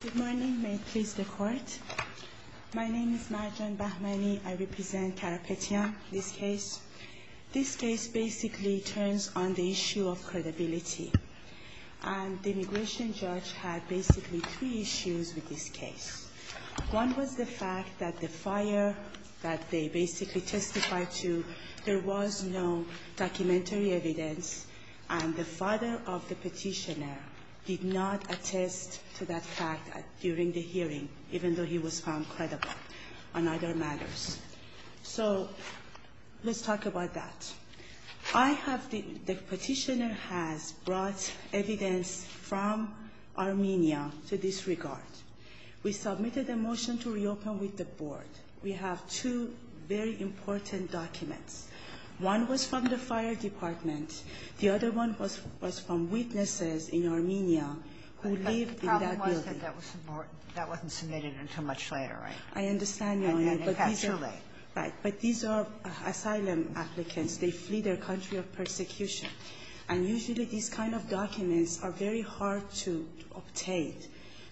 Good morning. May it please the Court. My name is Marjan Bahmani. I represent Karapetian, this case. This case basically turns on the issue of credibility, and the immigration judge had basically three issues with this case. One was the fact that the fire that they basically testified to, there was no documentary evidence, and the father of the petitioner did not attest to that fact during the hearing, even though he was found credible on other matters. So let's talk about that. The petitioner has brought evidence from Armenia to this regard. We submitted a motion to reopen with the Board. We have two very important documents. One was from the fire department. The other one was from witnesses in Armenia who lived in that building. But the problem was that that wasn't submitted until much later, right? I understand, Your Honor, but these are asylum applicants. They flee their country of persecution. And usually these kind of documents are very hard to obtain.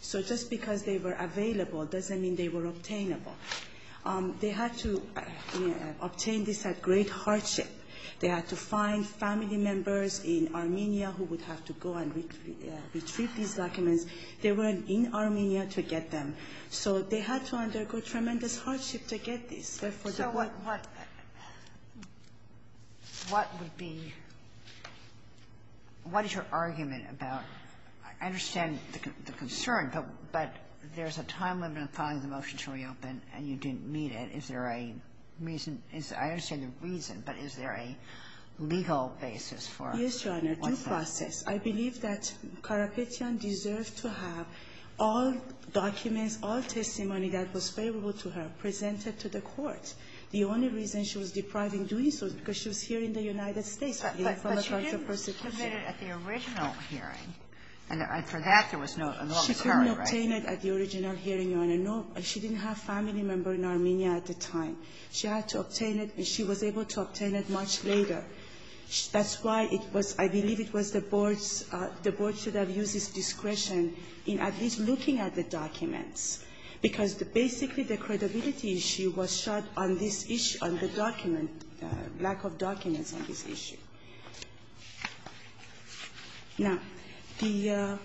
So just because they were available doesn't mean they were obtainable. They had to obtain this at great hardship. They had to find family members in Armenia who would have to go and retrieve these documents. They were in Armenia to get them. So they had to undergo tremendous hardship to get this. So what would be – what is your argument about – I understand the concern, but there's a time limit on filing the motion to reopen, and you didn't meet it. Is there a reason – I understand the reason, but is there a legal basis for what that is? Yes, Your Honor, due process. I believe that Karapetyan deserved to have all documents, all testimony that was favorable to her, presented to the court. The only reason she was deprived in doing so is because she was here in the United States in the Holocaust of Persecution. But she didn't submit it at the original hearing. And for that, there was no – a long period, right? She couldn't obtain it at the original hearing, Your Honor, no. She didn't have family member in Armenia at the time. She had to obtain it, and she was able to obtain it much later. That's why it was – I believe it was the board's – the board should have used its discretion in at least looking at the documents, because basically the credibility issue was shot on this issue, on the document, lack of documents on this issue. Now, the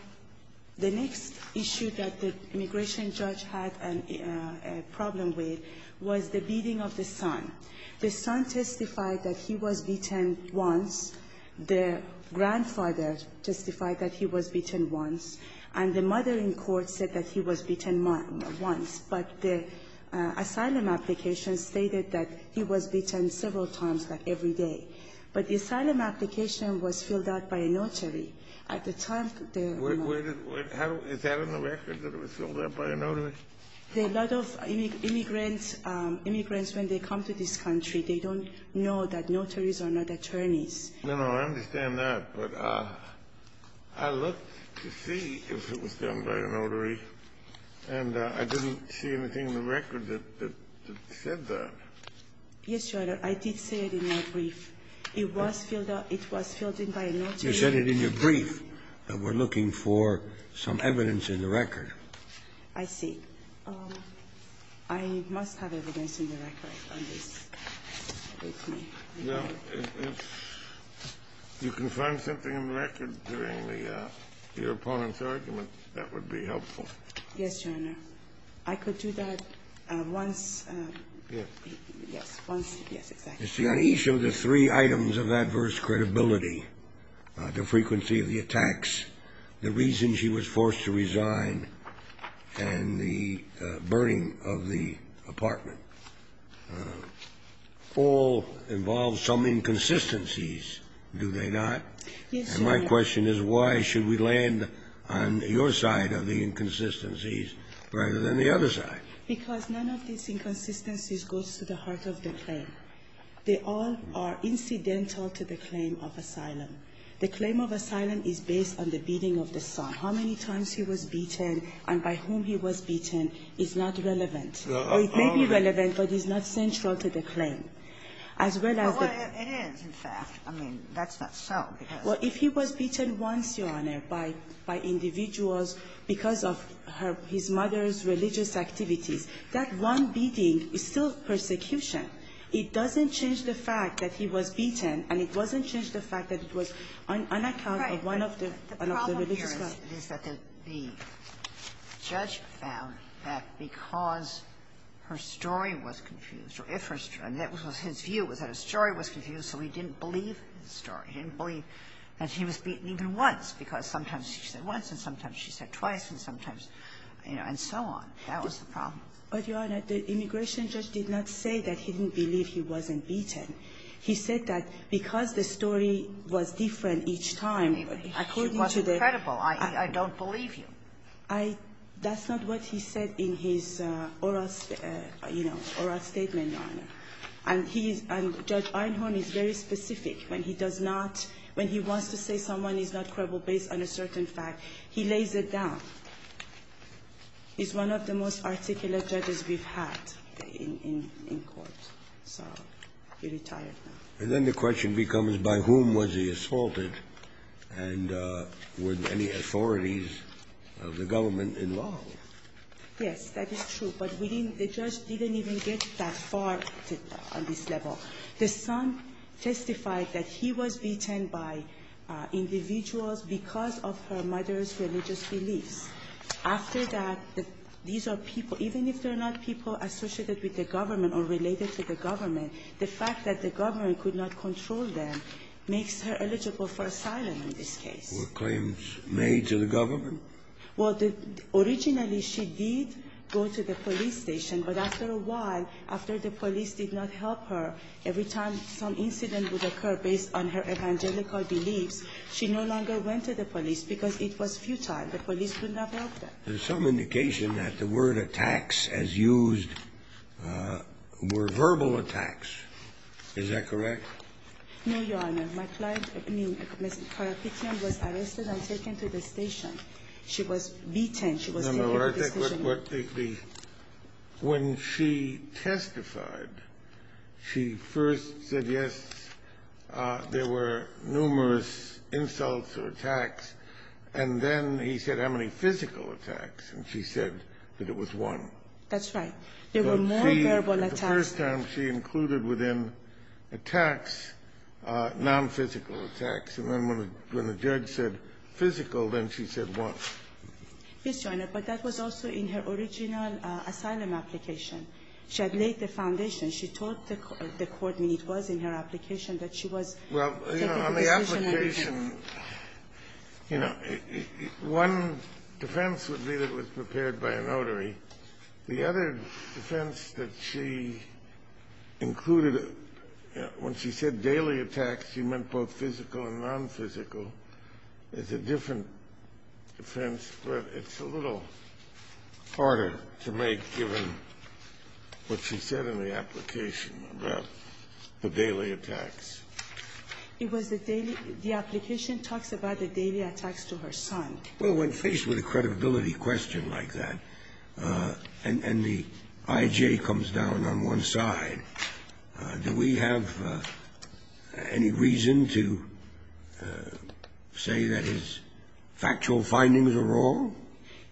next issue that the immigration judge had a problem with was the beating of the son. The son testified that he was beaten once. The grandfather testified that he was beaten once. And the mother in court said that he was beaten once. But the asylum application stated that he was beaten several times, like every day. But the asylum application was filled out by a notary. At the time, the mother – Is that on the record that it was filled out by a notary? A lot of immigrants, immigrants, when they come to this country, they don't know that notaries are not attorneys. No, no. I understand that. But I looked to see if it was done by a notary, and I didn't see anything in the record that said that. Yes, Your Honor. I did say it in my brief. It was filled out – it was filled in by a notary. You said it in your brief that we're looking for some evidence in the record. I see. I must have evidence in the record on this. Now, if you can find something in the record during the – your opponent's argument, that would be helpful. Yes, Your Honor. I could do that once – Yes. Yes, once – yes, exactly. You see, on each of the three items of adverse credibility, the frequency of the attacks, the reason she was forced to resign, and the burning of the apartment all involve some inconsistencies, do they not? Yes, Your Honor. And my question is, why should we land on your side of the inconsistencies rather than the other side? Because none of these inconsistencies goes to the heart of the claim. They all are incidental to the claim of asylum. The claim of asylum is based on the beating of the son. How many times he was beaten and by whom he was beaten is not relevant. Or it may be relevant, but it's not central to the claim. As well as the – Well, it is, in fact. I mean, that's not so, because – Well, if he was beaten once, Your Honor, by individuals because of his mother's religious activities, that one beating is still persecution. It doesn't change the fact that he was beaten, and it doesn't change the fact that it was on account of one of the – one of the religious groups. Right. The problem here is that the judge found that because her story was confused or if her story – and that was his view, was that her story was confused, so he didn't believe his story. He didn't believe that he was beaten even once because sometimes she said once and sometimes she said twice and sometimes, you know, and so on. That was the problem. But, Your Honor, the immigration judge did not say that he didn't believe he wasn't beaten. He said that because the story was different each time, according to the – I mean, she wasn't credible, i.e., I don't believe you. I – that's not what he said in his oral, you know, oral statement, Your Honor. And he's – and Judge Einhorn is very specific when he does not – when he wants to say someone is not credible based on a certain fact, he lays it down. He's one of the most articulate judges we've had in court. So he retired now. And then the question becomes, by whom was he assaulted? And were there any authorities of the government involved? Yes, that is true. But we didn't – the judge didn't even get that far on this level. The son testified that he was beaten by individuals because of her mother's religious beliefs. After that, these are people – even if they're not people associated with the government or related to the government, the fact that the government could not control them makes her eligible for asylum in this case. Were claims made to the government? Well, the – originally, she did go to the police station. But after a while, after the police did not help her, every time some incident because it was futile. The police could not help her. There's some indication that the word attacks, as used, were verbal attacks. Is that correct? No, Your Honor. My client – I mean, Ms. Carapetian was arrested and taken to the station. She was beaten. She was taken to the station. Your Honor, I think what the – when she testified, she first said, yes, there were numerous insults or attacks. And then he said, how many physical attacks? And she said that it was one. That's right. There were more verbal attacks. But she – the first time, she included within attacks nonphysical attacks. And then when the judge said physical, then she said one. Yes, Your Honor, but that was also in her original asylum application. She had laid the foundation. She told the court when it was in her application that she was taken to the station and beaten. Well, you know, on the application, you know, one defense would be that it was prepared by a notary. The other defense that she included when she said daily attacks, she meant both physical and nonphysical. It's a different defense, but it's a little harder to make given what she said in the application about the daily attacks. It was the daily – the application talks about the daily attacks to her son. Well, when faced with a credibility question like that, and the I.J. comes down on one side, do we have any reason to say that his factual findings are wrong?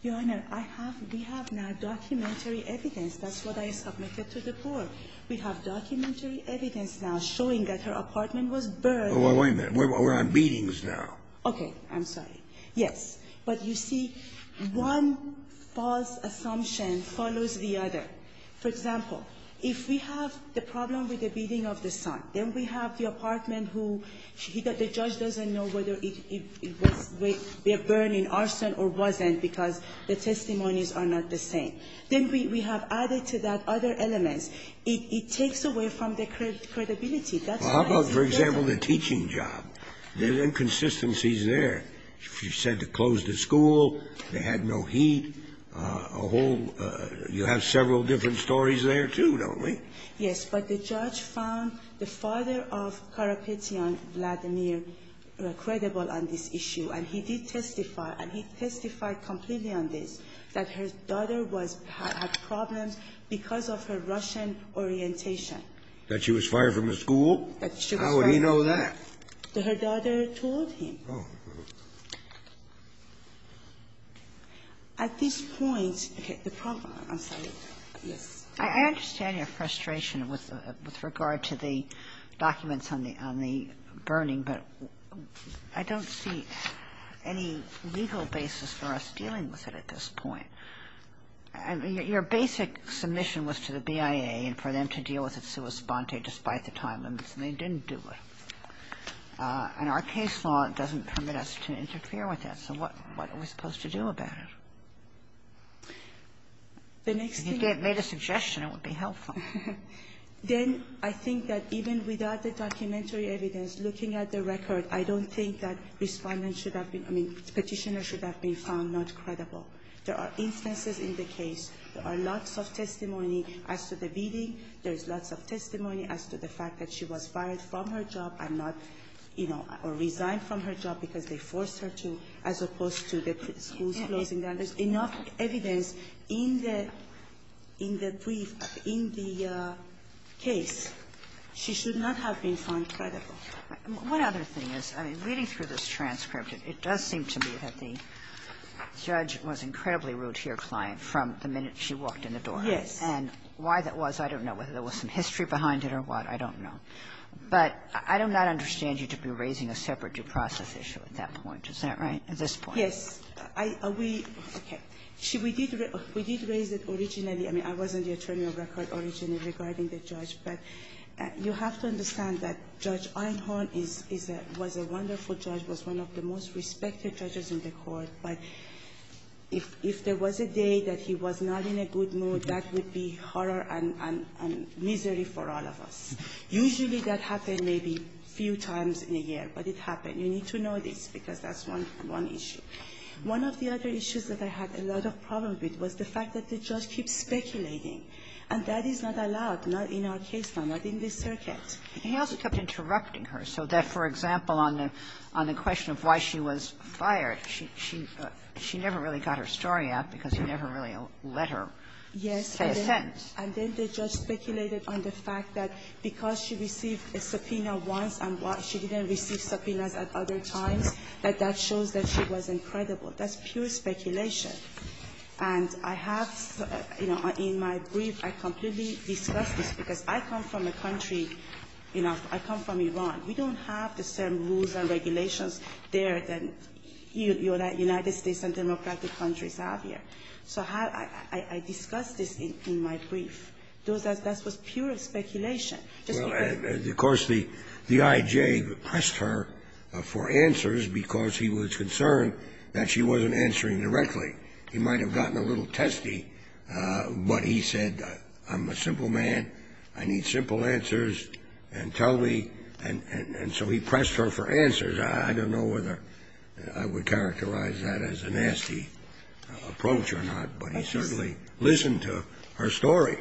Your Honor, I have – we have now documentary evidence. That's what I submitted to the court. We have documentary evidence now showing that her apartment was burned. Well, wait a minute. We're on beatings now. Okay. I'm sorry. Yes. But you see, one false assumption follows the other. For example, if we have the problem with the beating of the son, then we have the apartment who the judge doesn't know whether it was a burning arson or wasn't because the testimonies are not the same. Then we have added to that other elements. It takes away from the credibility. That's why it's there. Well, how about, for example, the teaching job? There are inconsistencies there. She said to close the school. They had no heat. A whole – you have several different stories there, too, don't we? Yes. But the judge found the father of Karapetyan Vladimir credible on this issue. And he did testify, and he testified completely on this, that her daughter was – had problems because of her Russian orientation. That she was fired from the school? That she was fired from the school. How would he know that? Her daughter told him. At this point – okay. The problem – I'm sorry. Yes. I understand your frustration with regard to the documents on the burning, but I don't see any legal basis for us dealing with it at this point. Your basic submission was to the BIA and for them to deal with it sua sponte despite the time limits, and they didn't do it. And our case law doesn't permit us to interfere with that. So what are we supposed to do about it? If you made a suggestion, it would be helpful. Then I think that even without the documentary evidence, looking at the record, I don't think that Respondent should have been – I mean, Petitioner should have been found not credible. There are instances in the case. There are lots of testimony as to the beating. There is lots of testimony as to the fact that she was fired from her job and not, you know, resigned from her job because they forced her to, as opposed to the school's closing down. There's enough evidence in the – in the brief, in the case. She should not have been found credible. What other thing is – I mean, reading through this transcript, it does seem to me that the judge was incredibly rude to your client from the minute she walked in the courtroom, whether there was some history behind it or what. I don't know. But I do not understand you to be raising a separate due process issue at that point. Isn't that right, at this point? Yes. Are we – okay. We did raise it originally. I mean, I wasn't the attorney of record originally regarding the judge, but you have to understand that Judge Einhorn is a – was a wonderful judge, was one of the most respected judges in the Court, but if there was a day that he was not in a good mood, that would be horror and misery for all of us. Usually that happened maybe a few times in a year, but it happened. You need to know this because that's one issue. One of the other issues that I had a lot of problems with was the fact that the judge keeps speculating, and that is not allowed, not in our case now, not in this circuit. He also kept interrupting her so that, for example, on the question of why she was Yes. And then the judge speculated on the fact that because she received a subpoena once and why she didn't receive subpoenas at other times, that that shows that she was incredible. That's pure speculation. And I have, you know, in my brief, I completely discussed this because I come from a country, you know, I come from Iran. We don't have the same rules and regulations there that United States and democratic countries have here. So I discussed this in my brief. That was pure speculation. Of course, the I.J. pressed her for answers because he was concerned that she wasn't answering directly. He might have gotten a little testy, but he said, I'm a simple man, I need simple answers, and tell me, and so he pressed her for answers. I don't know whether I would characterize that as a nasty approach or not, but he certainly listened to her story.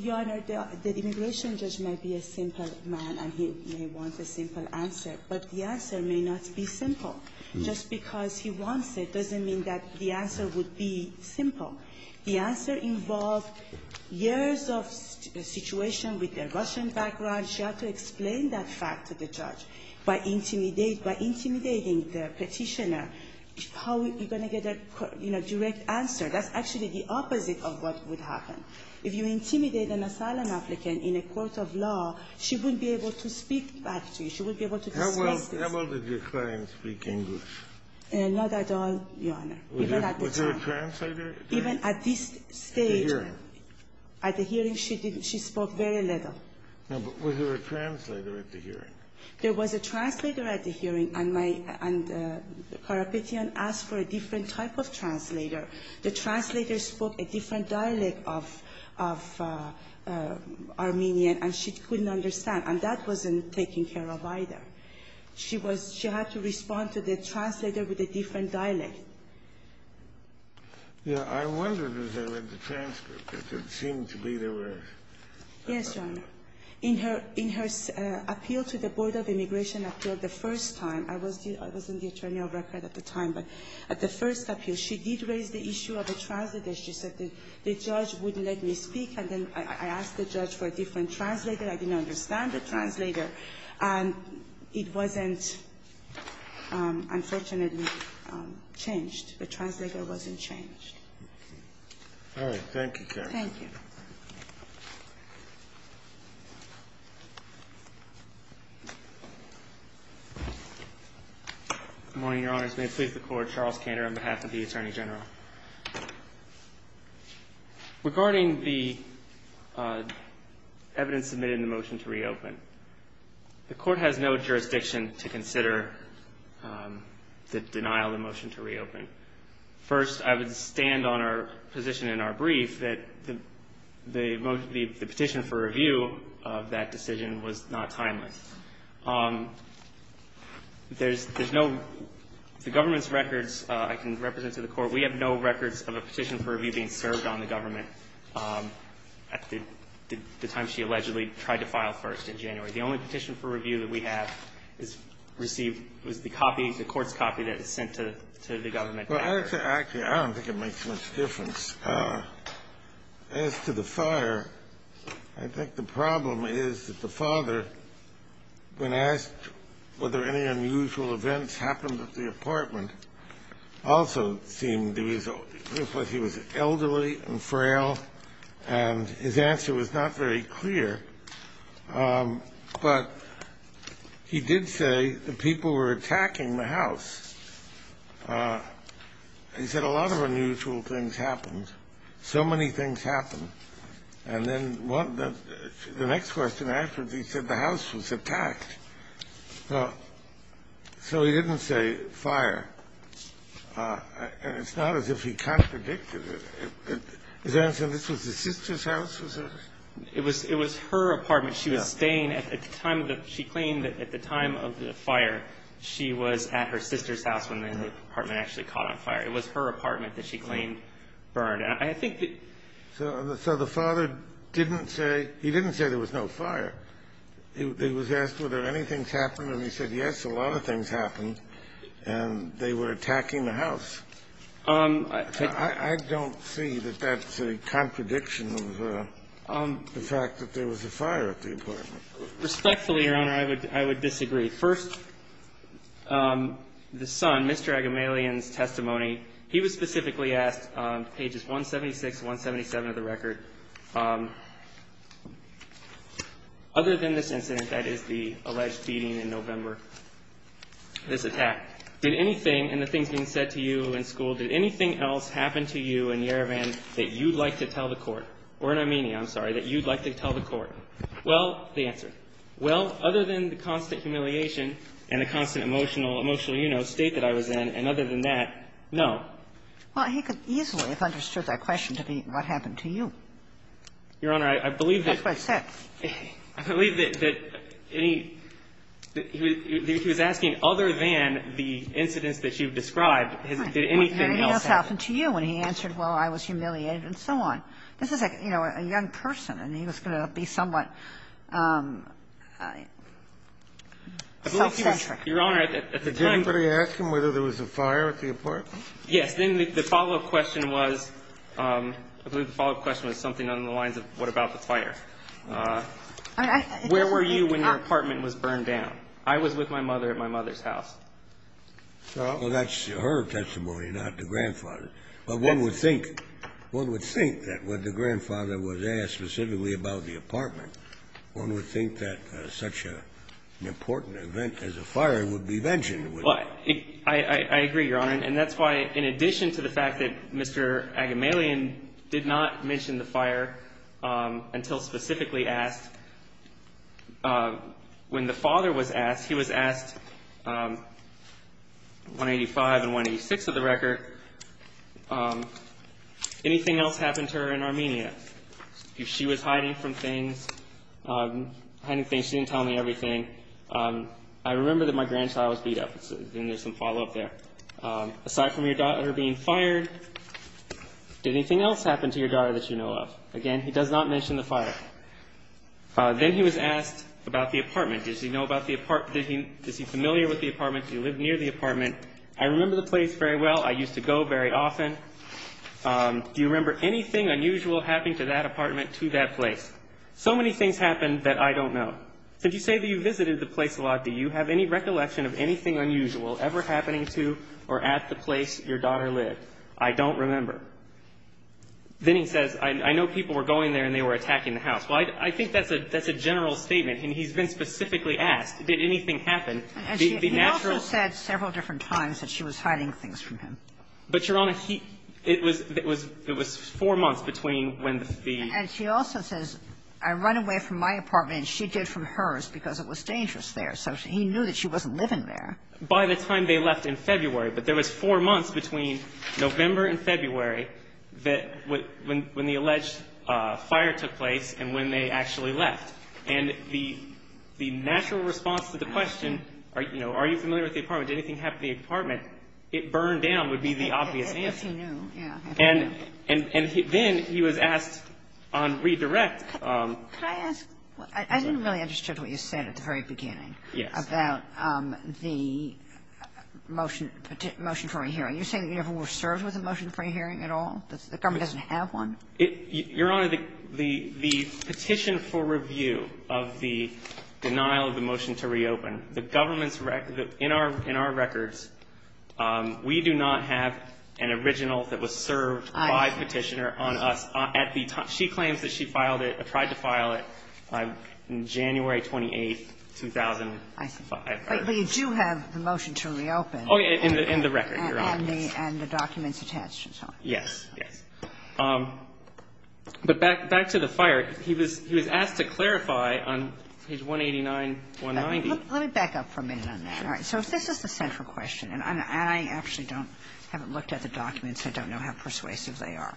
Your Honor, the immigration judge might be a simple man and he may want a simple answer, but the answer may not be simple. Just because he wants it doesn't mean that the answer would be simple. The answer involved years of situation with the Russian background. She had to explain that fact to the judge by intimidating the Petitioner how you're going to get a, you know, direct answer. That's actually the opposite of what would happen. If you intimidate an asylum applicant in a court of law, she wouldn't be able to speak back to you. She wouldn't be able to discuss this. How well did your client speak English? Not at all, Your Honor. Even at the time. Was there a translator? Even at this stage. At the hearing. At the hearing, she didn't. She spoke very little. No, but was there a translator at the hearing? There was a translator at the hearing, and my — and the parapetian asked for a different type of translator. The translator spoke a different dialect of — of Armenian, and she couldn't understand. And that wasn't taken care of either. She was — she had to respond to the translator with a different dialect. Yeah. I wondered as I read the transcript if it seemed to be there were — Yes, Your Honor. In her — in her appeal to the Board of Immigration Appeal the first time, I was the — I was in the attorney of record at the time, but at the first appeal, she did raise the issue of a translator. She said the judge wouldn't let me speak, and then I asked the judge for a different translator. I didn't understand the translator, and it wasn't, unfortunately, changed. The translator wasn't changed. All right. Thank you, Karen. Thank you. Good morning, Your Honors. May it please the Court, Charles Kander on behalf of the Attorney General. Regarding the evidence submitted in the motion to reopen, the Court has no jurisdiction to consider the denial of the motion to reopen. First, I would stand on our position in our brief that the petition for review of that decision was not timeless. There's no — the government's records I can represent to the Court. We have no records of a petition for review being served on the government at the time she allegedly tried to file first in January. The only petition for review that we have is received — was the copy, the Court's I don't think it makes much difference. As to the fire, I think the problem is that the father, when asked whether any unusual events happened at the apartment, also seemed — he was elderly and frail, and his answer was not very clear. But he did say the people were attacking the house. He said a lot of unusual things happened. So many things happened. And then the next question afterwards, he said the house was attacked. So he didn't say fire. And it's not as if he contradicted it. His answer, this was his sister's house? It was her apartment. She was staying at the time of the — she claimed that at the time of the fire, she was at her sister's house when the apartment actually caught on fire. It was her apartment that she claimed burned. And I think that — So the father didn't say — he didn't say there was no fire. He was asked whether anything's happened, and he said, yes, a lot of things happened, and they were attacking the house. I don't see that that's a contradiction of the fact that there was a fire at the apartment. Respectfully, Your Honor, I would disagree. First, the son, Mr. Agamalian's testimony, he was specifically asked, pages 176 and 177 of the record, other than this incident, that is, the alleged beating in November, this attack. Did anything in the things being said to you in school, did anything else happen to you in Yerevan that you'd like to tell the Court, or in Armenia, I'm sorry, that you'd like to tell the Court? Well, the answer, well, other than the constant humiliation and the constant emotional — emotional, you know, state that I was in, and other than that, no. Well, he could easily have understood that question to be what happened to you. That's what it said. I believe that any — he was asking, other than the incidents that you've described, did anything else happen? Nothing else happened to you. And he answered, well, I was humiliated, and so on. This is, you know, a young person, and he was going to be somewhat self-centric. Your Honor, at the time — Did anybody ask him whether there was a fire at the apartment? Yes. Then the follow-up question was — I believe the follow-up question was something along the lines of what about the fire. Where were you when your apartment was burned down? I was with my mother at my mother's house. Well, that's her testimony, not the grandfather. But one would think — one would think that when the grandfather was asked specifically about the apartment, one would think that such an important event as a fire would be mentioned. Well, I agree, Your Honor, and that's why, in addition to the fact that Mr. Agamalian did not mention the fire until specifically asked, when the father was asked, he was asked 185 and 186 of the record, anything else happened to her in Armenia? She was hiding from things, hiding things. She didn't tell me everything. I remember that my grandchild was beat up, and there's some follow-up there. Aside from your daughter being fired, did anything else happen to your daughter that you know of? Again, he does not mention the fire. Then he was asked about the apartment. Does he know about the apartment? Is he familiar with the apartment? Do you live near the apartment? I remember the place very well. I used to go very often. Do you remember anything unusual happening to that apartment, to that place? So many things happened that I don't know. Did you say that you visited the place a lot? Do you have any recollection of anything unusual ever happening to or at the place your daughter lived? I don't remember. Then he says, I know people were going there and they were attacking the house. Well, I think that's a general statement. And he's been specifically asked, did anything happen? The natural ---- And she also said several different times that she was hiding things from him. But, Your Honor, it was four months between when the ---- And she also says, I run away from my apartment and she did from hers because it was dangerous there. So he knew that she wasn't living there. By the time they left in February. But there was four months between November and February that when the alleged fire took place and when they actually left. And the natural response to the question, are you familiar with the apartment? Did anything happen to the apartment? It burned down would be the obvious answer. If he knew, yeah. And then he was asked on redirect. Could I ask? I didn't really understand what you said at the very beginning. Yes. About the motion for a hearing. You're saying you never were served with a motion for a hearing at all? The government doesn't have one? Your Honor, the petition for review of the denial of the motion to reopen, the government's record ---- in our records, we do not have an original that was served by Petitioner on us at the time. She claims that she filed it or tried to file it on January 28, 2005. But you do have the motion to reopen. Oh, yeah. In the record, Your Honor. And the documents attached and so on. Yes, yes. But back to the fire. He was asked to clarify on page 189, 190. Let me back up for a minute on that. All right. So this is the central question. And I actually don't ---- haven't looked at the documents. I don't know how persuasive they are.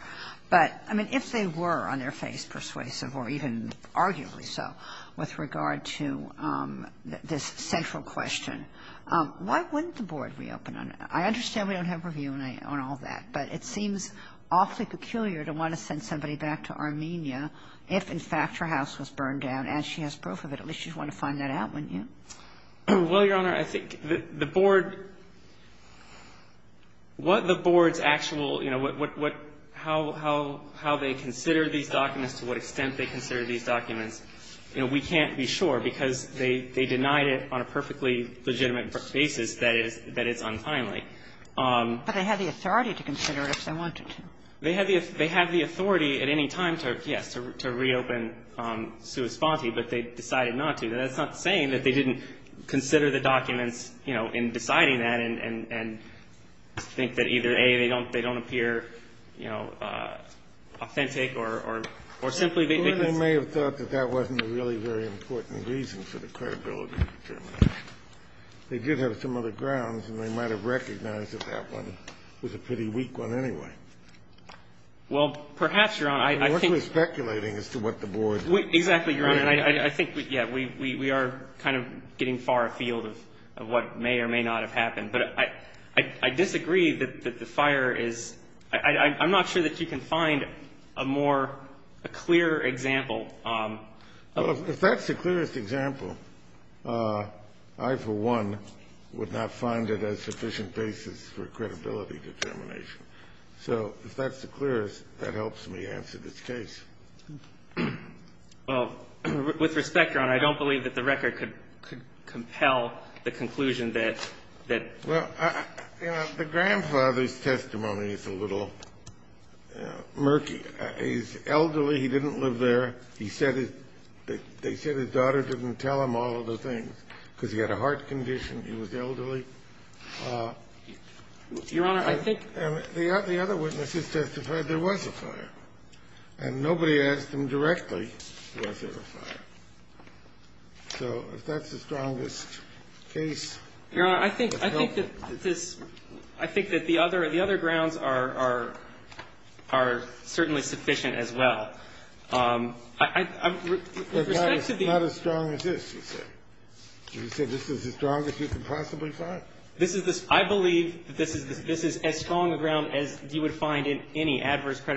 But, I mean, if they were on their face persuasive or even arguably so with regard to this central question, why wouldn't the board reopen on it? I understand we don't have review on all that, but it seems awfully peculiar to want to send somebody back to Armenia if, in fact, her house was burned down and she has proof of it. At least you'd want to find that out, wouldn't you? Well, Your Honor, I think the board ---- what the board's actual, you know, what ---- how they consider these documents, to what extent they consider these documents, you know, we can't be sure because they denied it on a perfectly legitimate basis that it's unfinely. But they have the authority to consider it if they wanted to. They have the authority at any time to, yes, to reopen Sue Esponti. But they decided not to. That's not saying that they didn't consider the documents, you know, in deciding that and think that either, A, they don't appear, you know, authentic or simply they think it's ---- The board may have thought that that wasn't a really very important reason for the credibility determination. They did have some other grounds, and they might have recognized that that one was a pretty weak one anyway. Well, perhaps, Your Honor, I think ---- The board was speculating as to what the board ---- Exactly, Your Honor. I think, yes, we are kind of getting far afield of what may or may not have happened but I disagree that the fire is ---- I'm not sure that you can find a more clear example of ---- Well, if that's the clearest example, I, for one, would not find it a sufficient basis for credibility determination. So if that's the clearest, that helps me answer this case. Well, with respect, Your Honor, I don't believe that the record could compel the conclusion that that ---- Well, you know, the grandfather's testimony is a little murky. He's elderly. He didn't live there. He said his ---- they said his daughter didn't tell him all of the things because he had a heart condition. He was elderly. Your Honor, I think ---- And the other witnesses testified there was a fire, and nobody asked him directly was there a fire. So if that's the strongest case, that's helpful. Your Honor, I think that this ---- I think that the other grounds are certainly sufficient as well. With respect to the ---- But not as strong as this, you said. You said this is the strongest you could possibly find? This is the ---- I believe that this is as strong a ground as you would find in any other case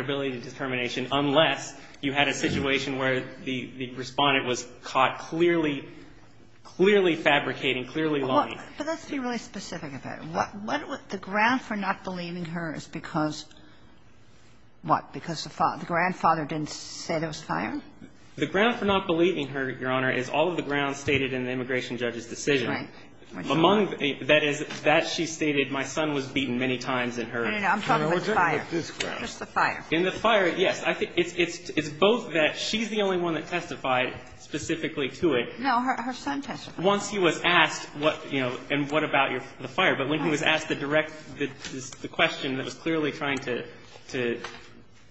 where the respondent was caught clearly fabricating, clearly lying. But let's be really specific about it. What would the ground for not believing her is because, what, because the grandfather didn't say there was a fire? The ground for not believing her, Your Honor, is all of the grounds stated in the immigration judge's decision. Right. Among the ---- that is, that she stated my son was beaten many times in her ---- No, no, no. No, I'm talking about this ground. Just the fire. In the fire, yes. I think it's both that she's the only one that testified specifically to it. No, her son testified. Once he was asked what, you know, and what about the fire. But when he was asked the direct ---- the question that was clearly trying to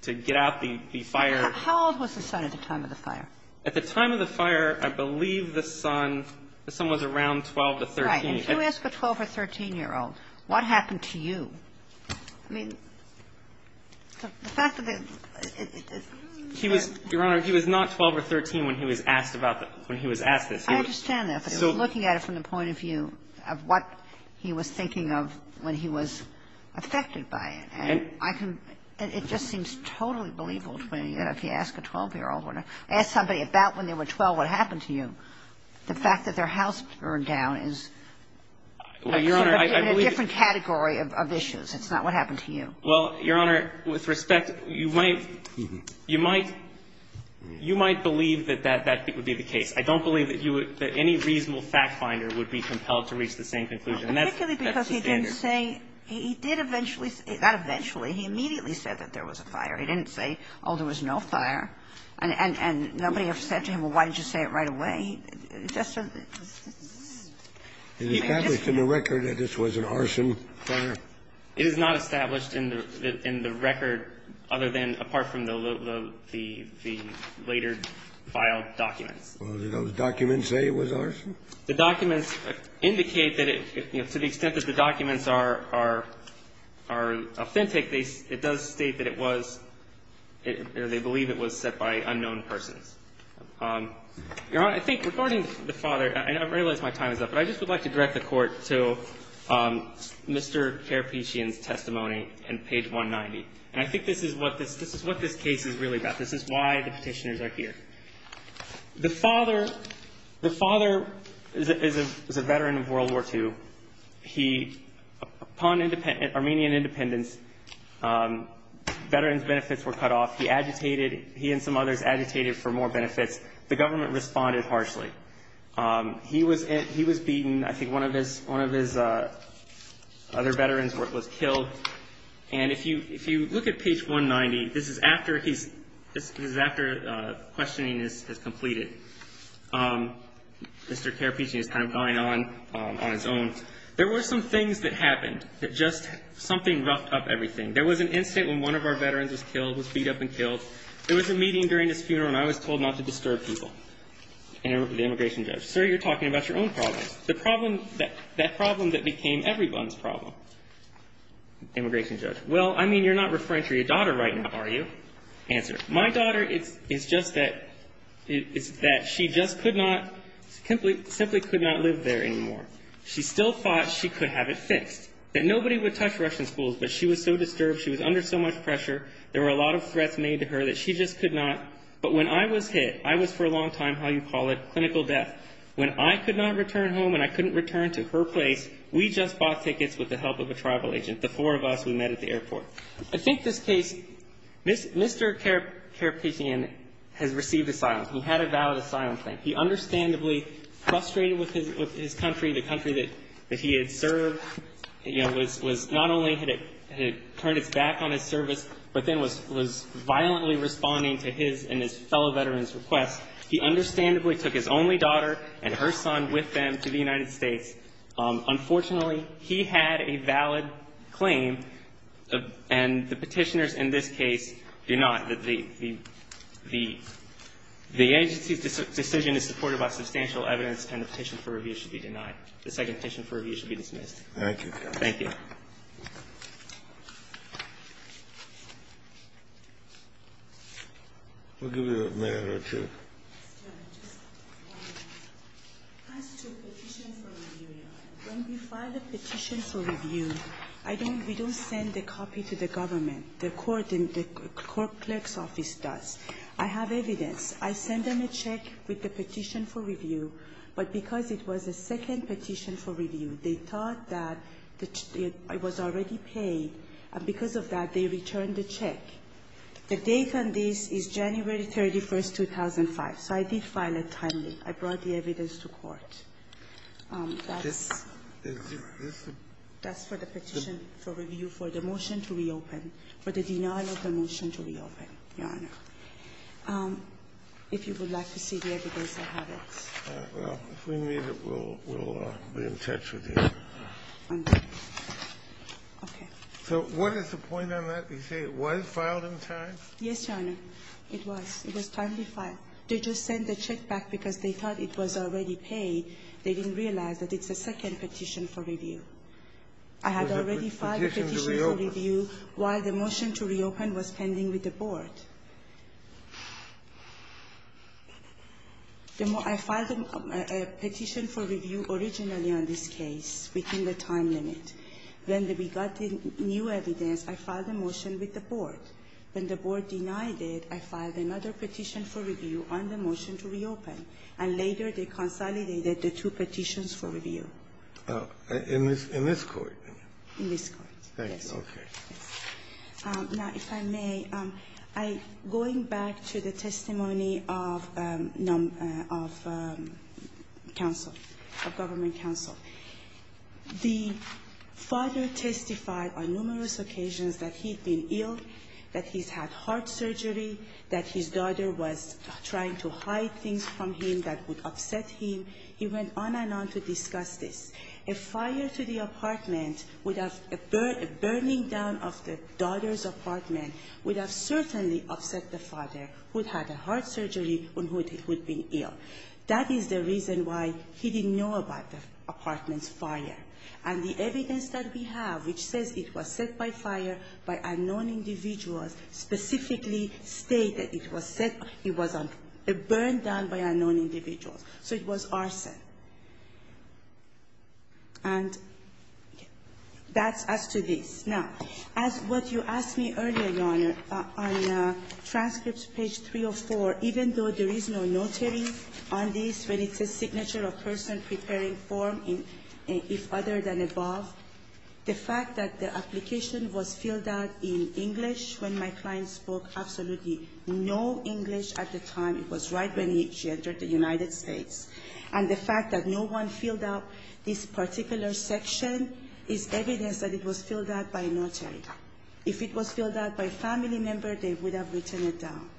get out the fire. How old was the son at the time of the fire? At the time of the fire, I believe the son was around 12 to 13. Right. And if you ask a 12- or 13-year-old, what happened to you? I mean, the fact that the ---- He was, Your Honor, he was not 12 or 13 when he was asked about the ---- when he was asked this. I understand that. But looking at it from the point of view of what he was thinking of when he was affected by it. And I can ---- it just seems totally believable to me that if you ask a 12-year-old or ask somebody about when they were 12 what happened to you, the fact that their house burned down is ---- Well, Your Honor, I believe ---- It's a different category of issues. It's not what happened to you. Well, Your Honor, with respect, you might ---- you might believe that that would be the case. I don't believe that you would ---- that any reasonable fact finder would be compelled to reach the same conclusion. And that's the standard. Particularly because he didn't say he did eventually ---- not eventually. He immediately said that there was a fire. He didn't say, oh, there was no fire. And nobody ever said to him, well, why didn't you say it right away? I mean, that's a ---- It's established in the record that this was an arson fire. It is not established in the record other than apart from the later filed documents. Well, did those documents say it was arson? The documents indicate that it ---- to the extent that the documents are authentic, it does state that it was ---- they believe it was set by unknown persons. Your Honor, I think regarding the father, I realize my time is up, but I just would like to direct the Court to Mr. Kerepichian's testimony on page 190. And I think this is what this case is really about. This is why the Petitioners are here. The father is a veteran of World War II. He, upon Armenian independence, veterans' benefits were cut off. He agitated. He and some others agitated for more benefits. The government responded harshly. He was beaten. I think one of his other veterans was killed. And if you look at page 190, this is after he's ---- this is after questioning is completed. Mr. Kerepichian is kind of going on on his own. There were some things that happened that just something roughed up everything. There was an incident when one of our veterans was killed, was beat up and killed. There was a meeting during this funeral, and I was told not to disturb people. And the immigration judge, sir, you're talking about your own problems. The problem that ---- that problem that became everyone's problem. Immigration judge, well, I mean, you're not referring to your daughter right now, are you? Answer, my daughter, it's just that she just could not ---- simply could not live there anymore. She still thought she could have it fixed, that nobody would touch Russian schools, but she was so disturbed, she was under so much pressure. There were a lot of threats made to her that she just could not. But when I was hit, I was for a long time, how you call it, clinical death. When I could not return home and I couldn't return to her place, we just bought tickets with the help of a tribal agent, the four of us we met at the airport. I think this case, Mr. Kerepichian has received asylum. He had a valid asylum claim. He understandably frustrated with his country, the country that he had served. You know, was not only had it turned its back on his service, but then was violently responding to his and his fellow veterans' requests. He understandably took his only daughter and her son with them to the United States. Unfortunately, he had a valid claim, and the Petitioners in this case do not. The agency's decision is supported by substantial evidence, and the Petition for Review should be denied. The second Petition for Review should be dismissed. Thank you, Your Honor. Thank you. We'll give you a minute or two. Just one. As to Petition for Review, Your Honor, when we file a Petition for Review, I don't we don't send a copy to the government. The court in the clerk's office does. I have evidence. I send them a check with the Petition for Review. But because it was a second Petition for Review, they thought that it was already paid, and because of that, they returned the check. The date on this is January 31, 2005. So I did file it timely. I brought the evidence to court. That's for the Petition for Review for the motion to reopen, for the denial of the motion to reopen, Your Honor. If you would like to see the evidence, I have it. All right. Well, if we need it, we'll be in touch with you. Okay. So what is the point on that? You say it was filed in time? Yes, Your Honor. It was. It was timely filed. They just sent the check back because they thought it was already paid. They didn't realize that it's a second Petition for Review. I had already filed a Petition for Review while the motion to reopen was pending with the board. I filed a Petition for Review originally on this case within the time limit. When we got the new evidence, I filed a motion with the board. When the board denied it, I filed another Petition for Review on the motion to reopen, and later they consolidated the two Petitions for Review. In this court? In this court. Thank you. Okay. Now, if I may, I'm going back to the testimony of counsel, of government counsel. The father testified on numerous occasions that he'd been ill, that he's had heart surgery, that his daughter was trying to hide things from him that would upset him. He went on and on to discuss this. A fire to the apartment would have ‑‑ a burning down of the daughter's apartment would have certainly upset the father who'd had a heart surgery and who'd been ill. That is the reason why he didn't know about the apartment's fire. And the evidence that we have which says it was set by fire by unknown individuals specifically stated it was set ‑‑ it was a burn down by unknown individuals. So it was arson. And that's as to this. Now, as what you asked me earlier, Your Honor, on transcripts page 304, even though there is no notary on this, but it's a signature of person preparing form, if other than above, the fact that the application was filled out in English when my client spoke absolutely no English at the time. It was right when she entered the United States. And the fact that no one filled out this particular section is evidence that it was filled out by a notary. If it was filled out by a family member, they would have written it down.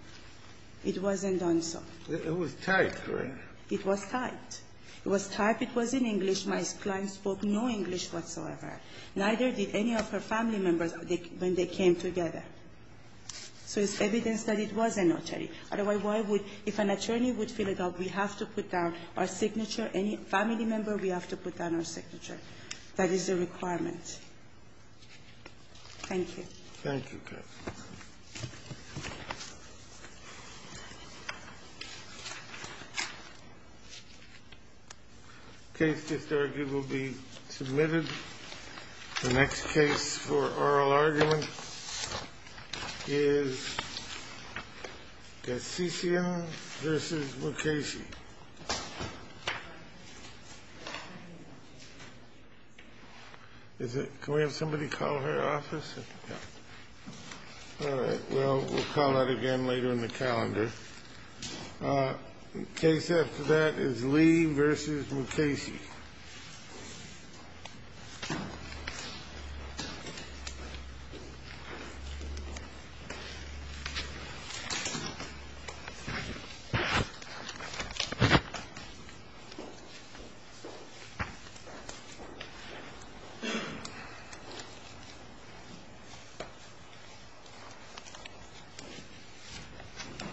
It wasn't done so. It was typed, Your Honor. It was typed. It was typed. It was in English. My client spoke no English whatsoever. Neither did any of her family members when they came together. So it's evidence that it was a notary. Otherwise, why would, if an attorney would fill it out, we have to put down our signature, any family member, we have to put down our signature. That is the requirement. Thank you. Thank you, counsel. The case just argued will be submitted. The next case for oral argument is Kassisian v. Mukasey. Can we have somebody call her office? All right. We'll call that again later in the calendar. The case after that is Lee v. Mukasey. Thank you.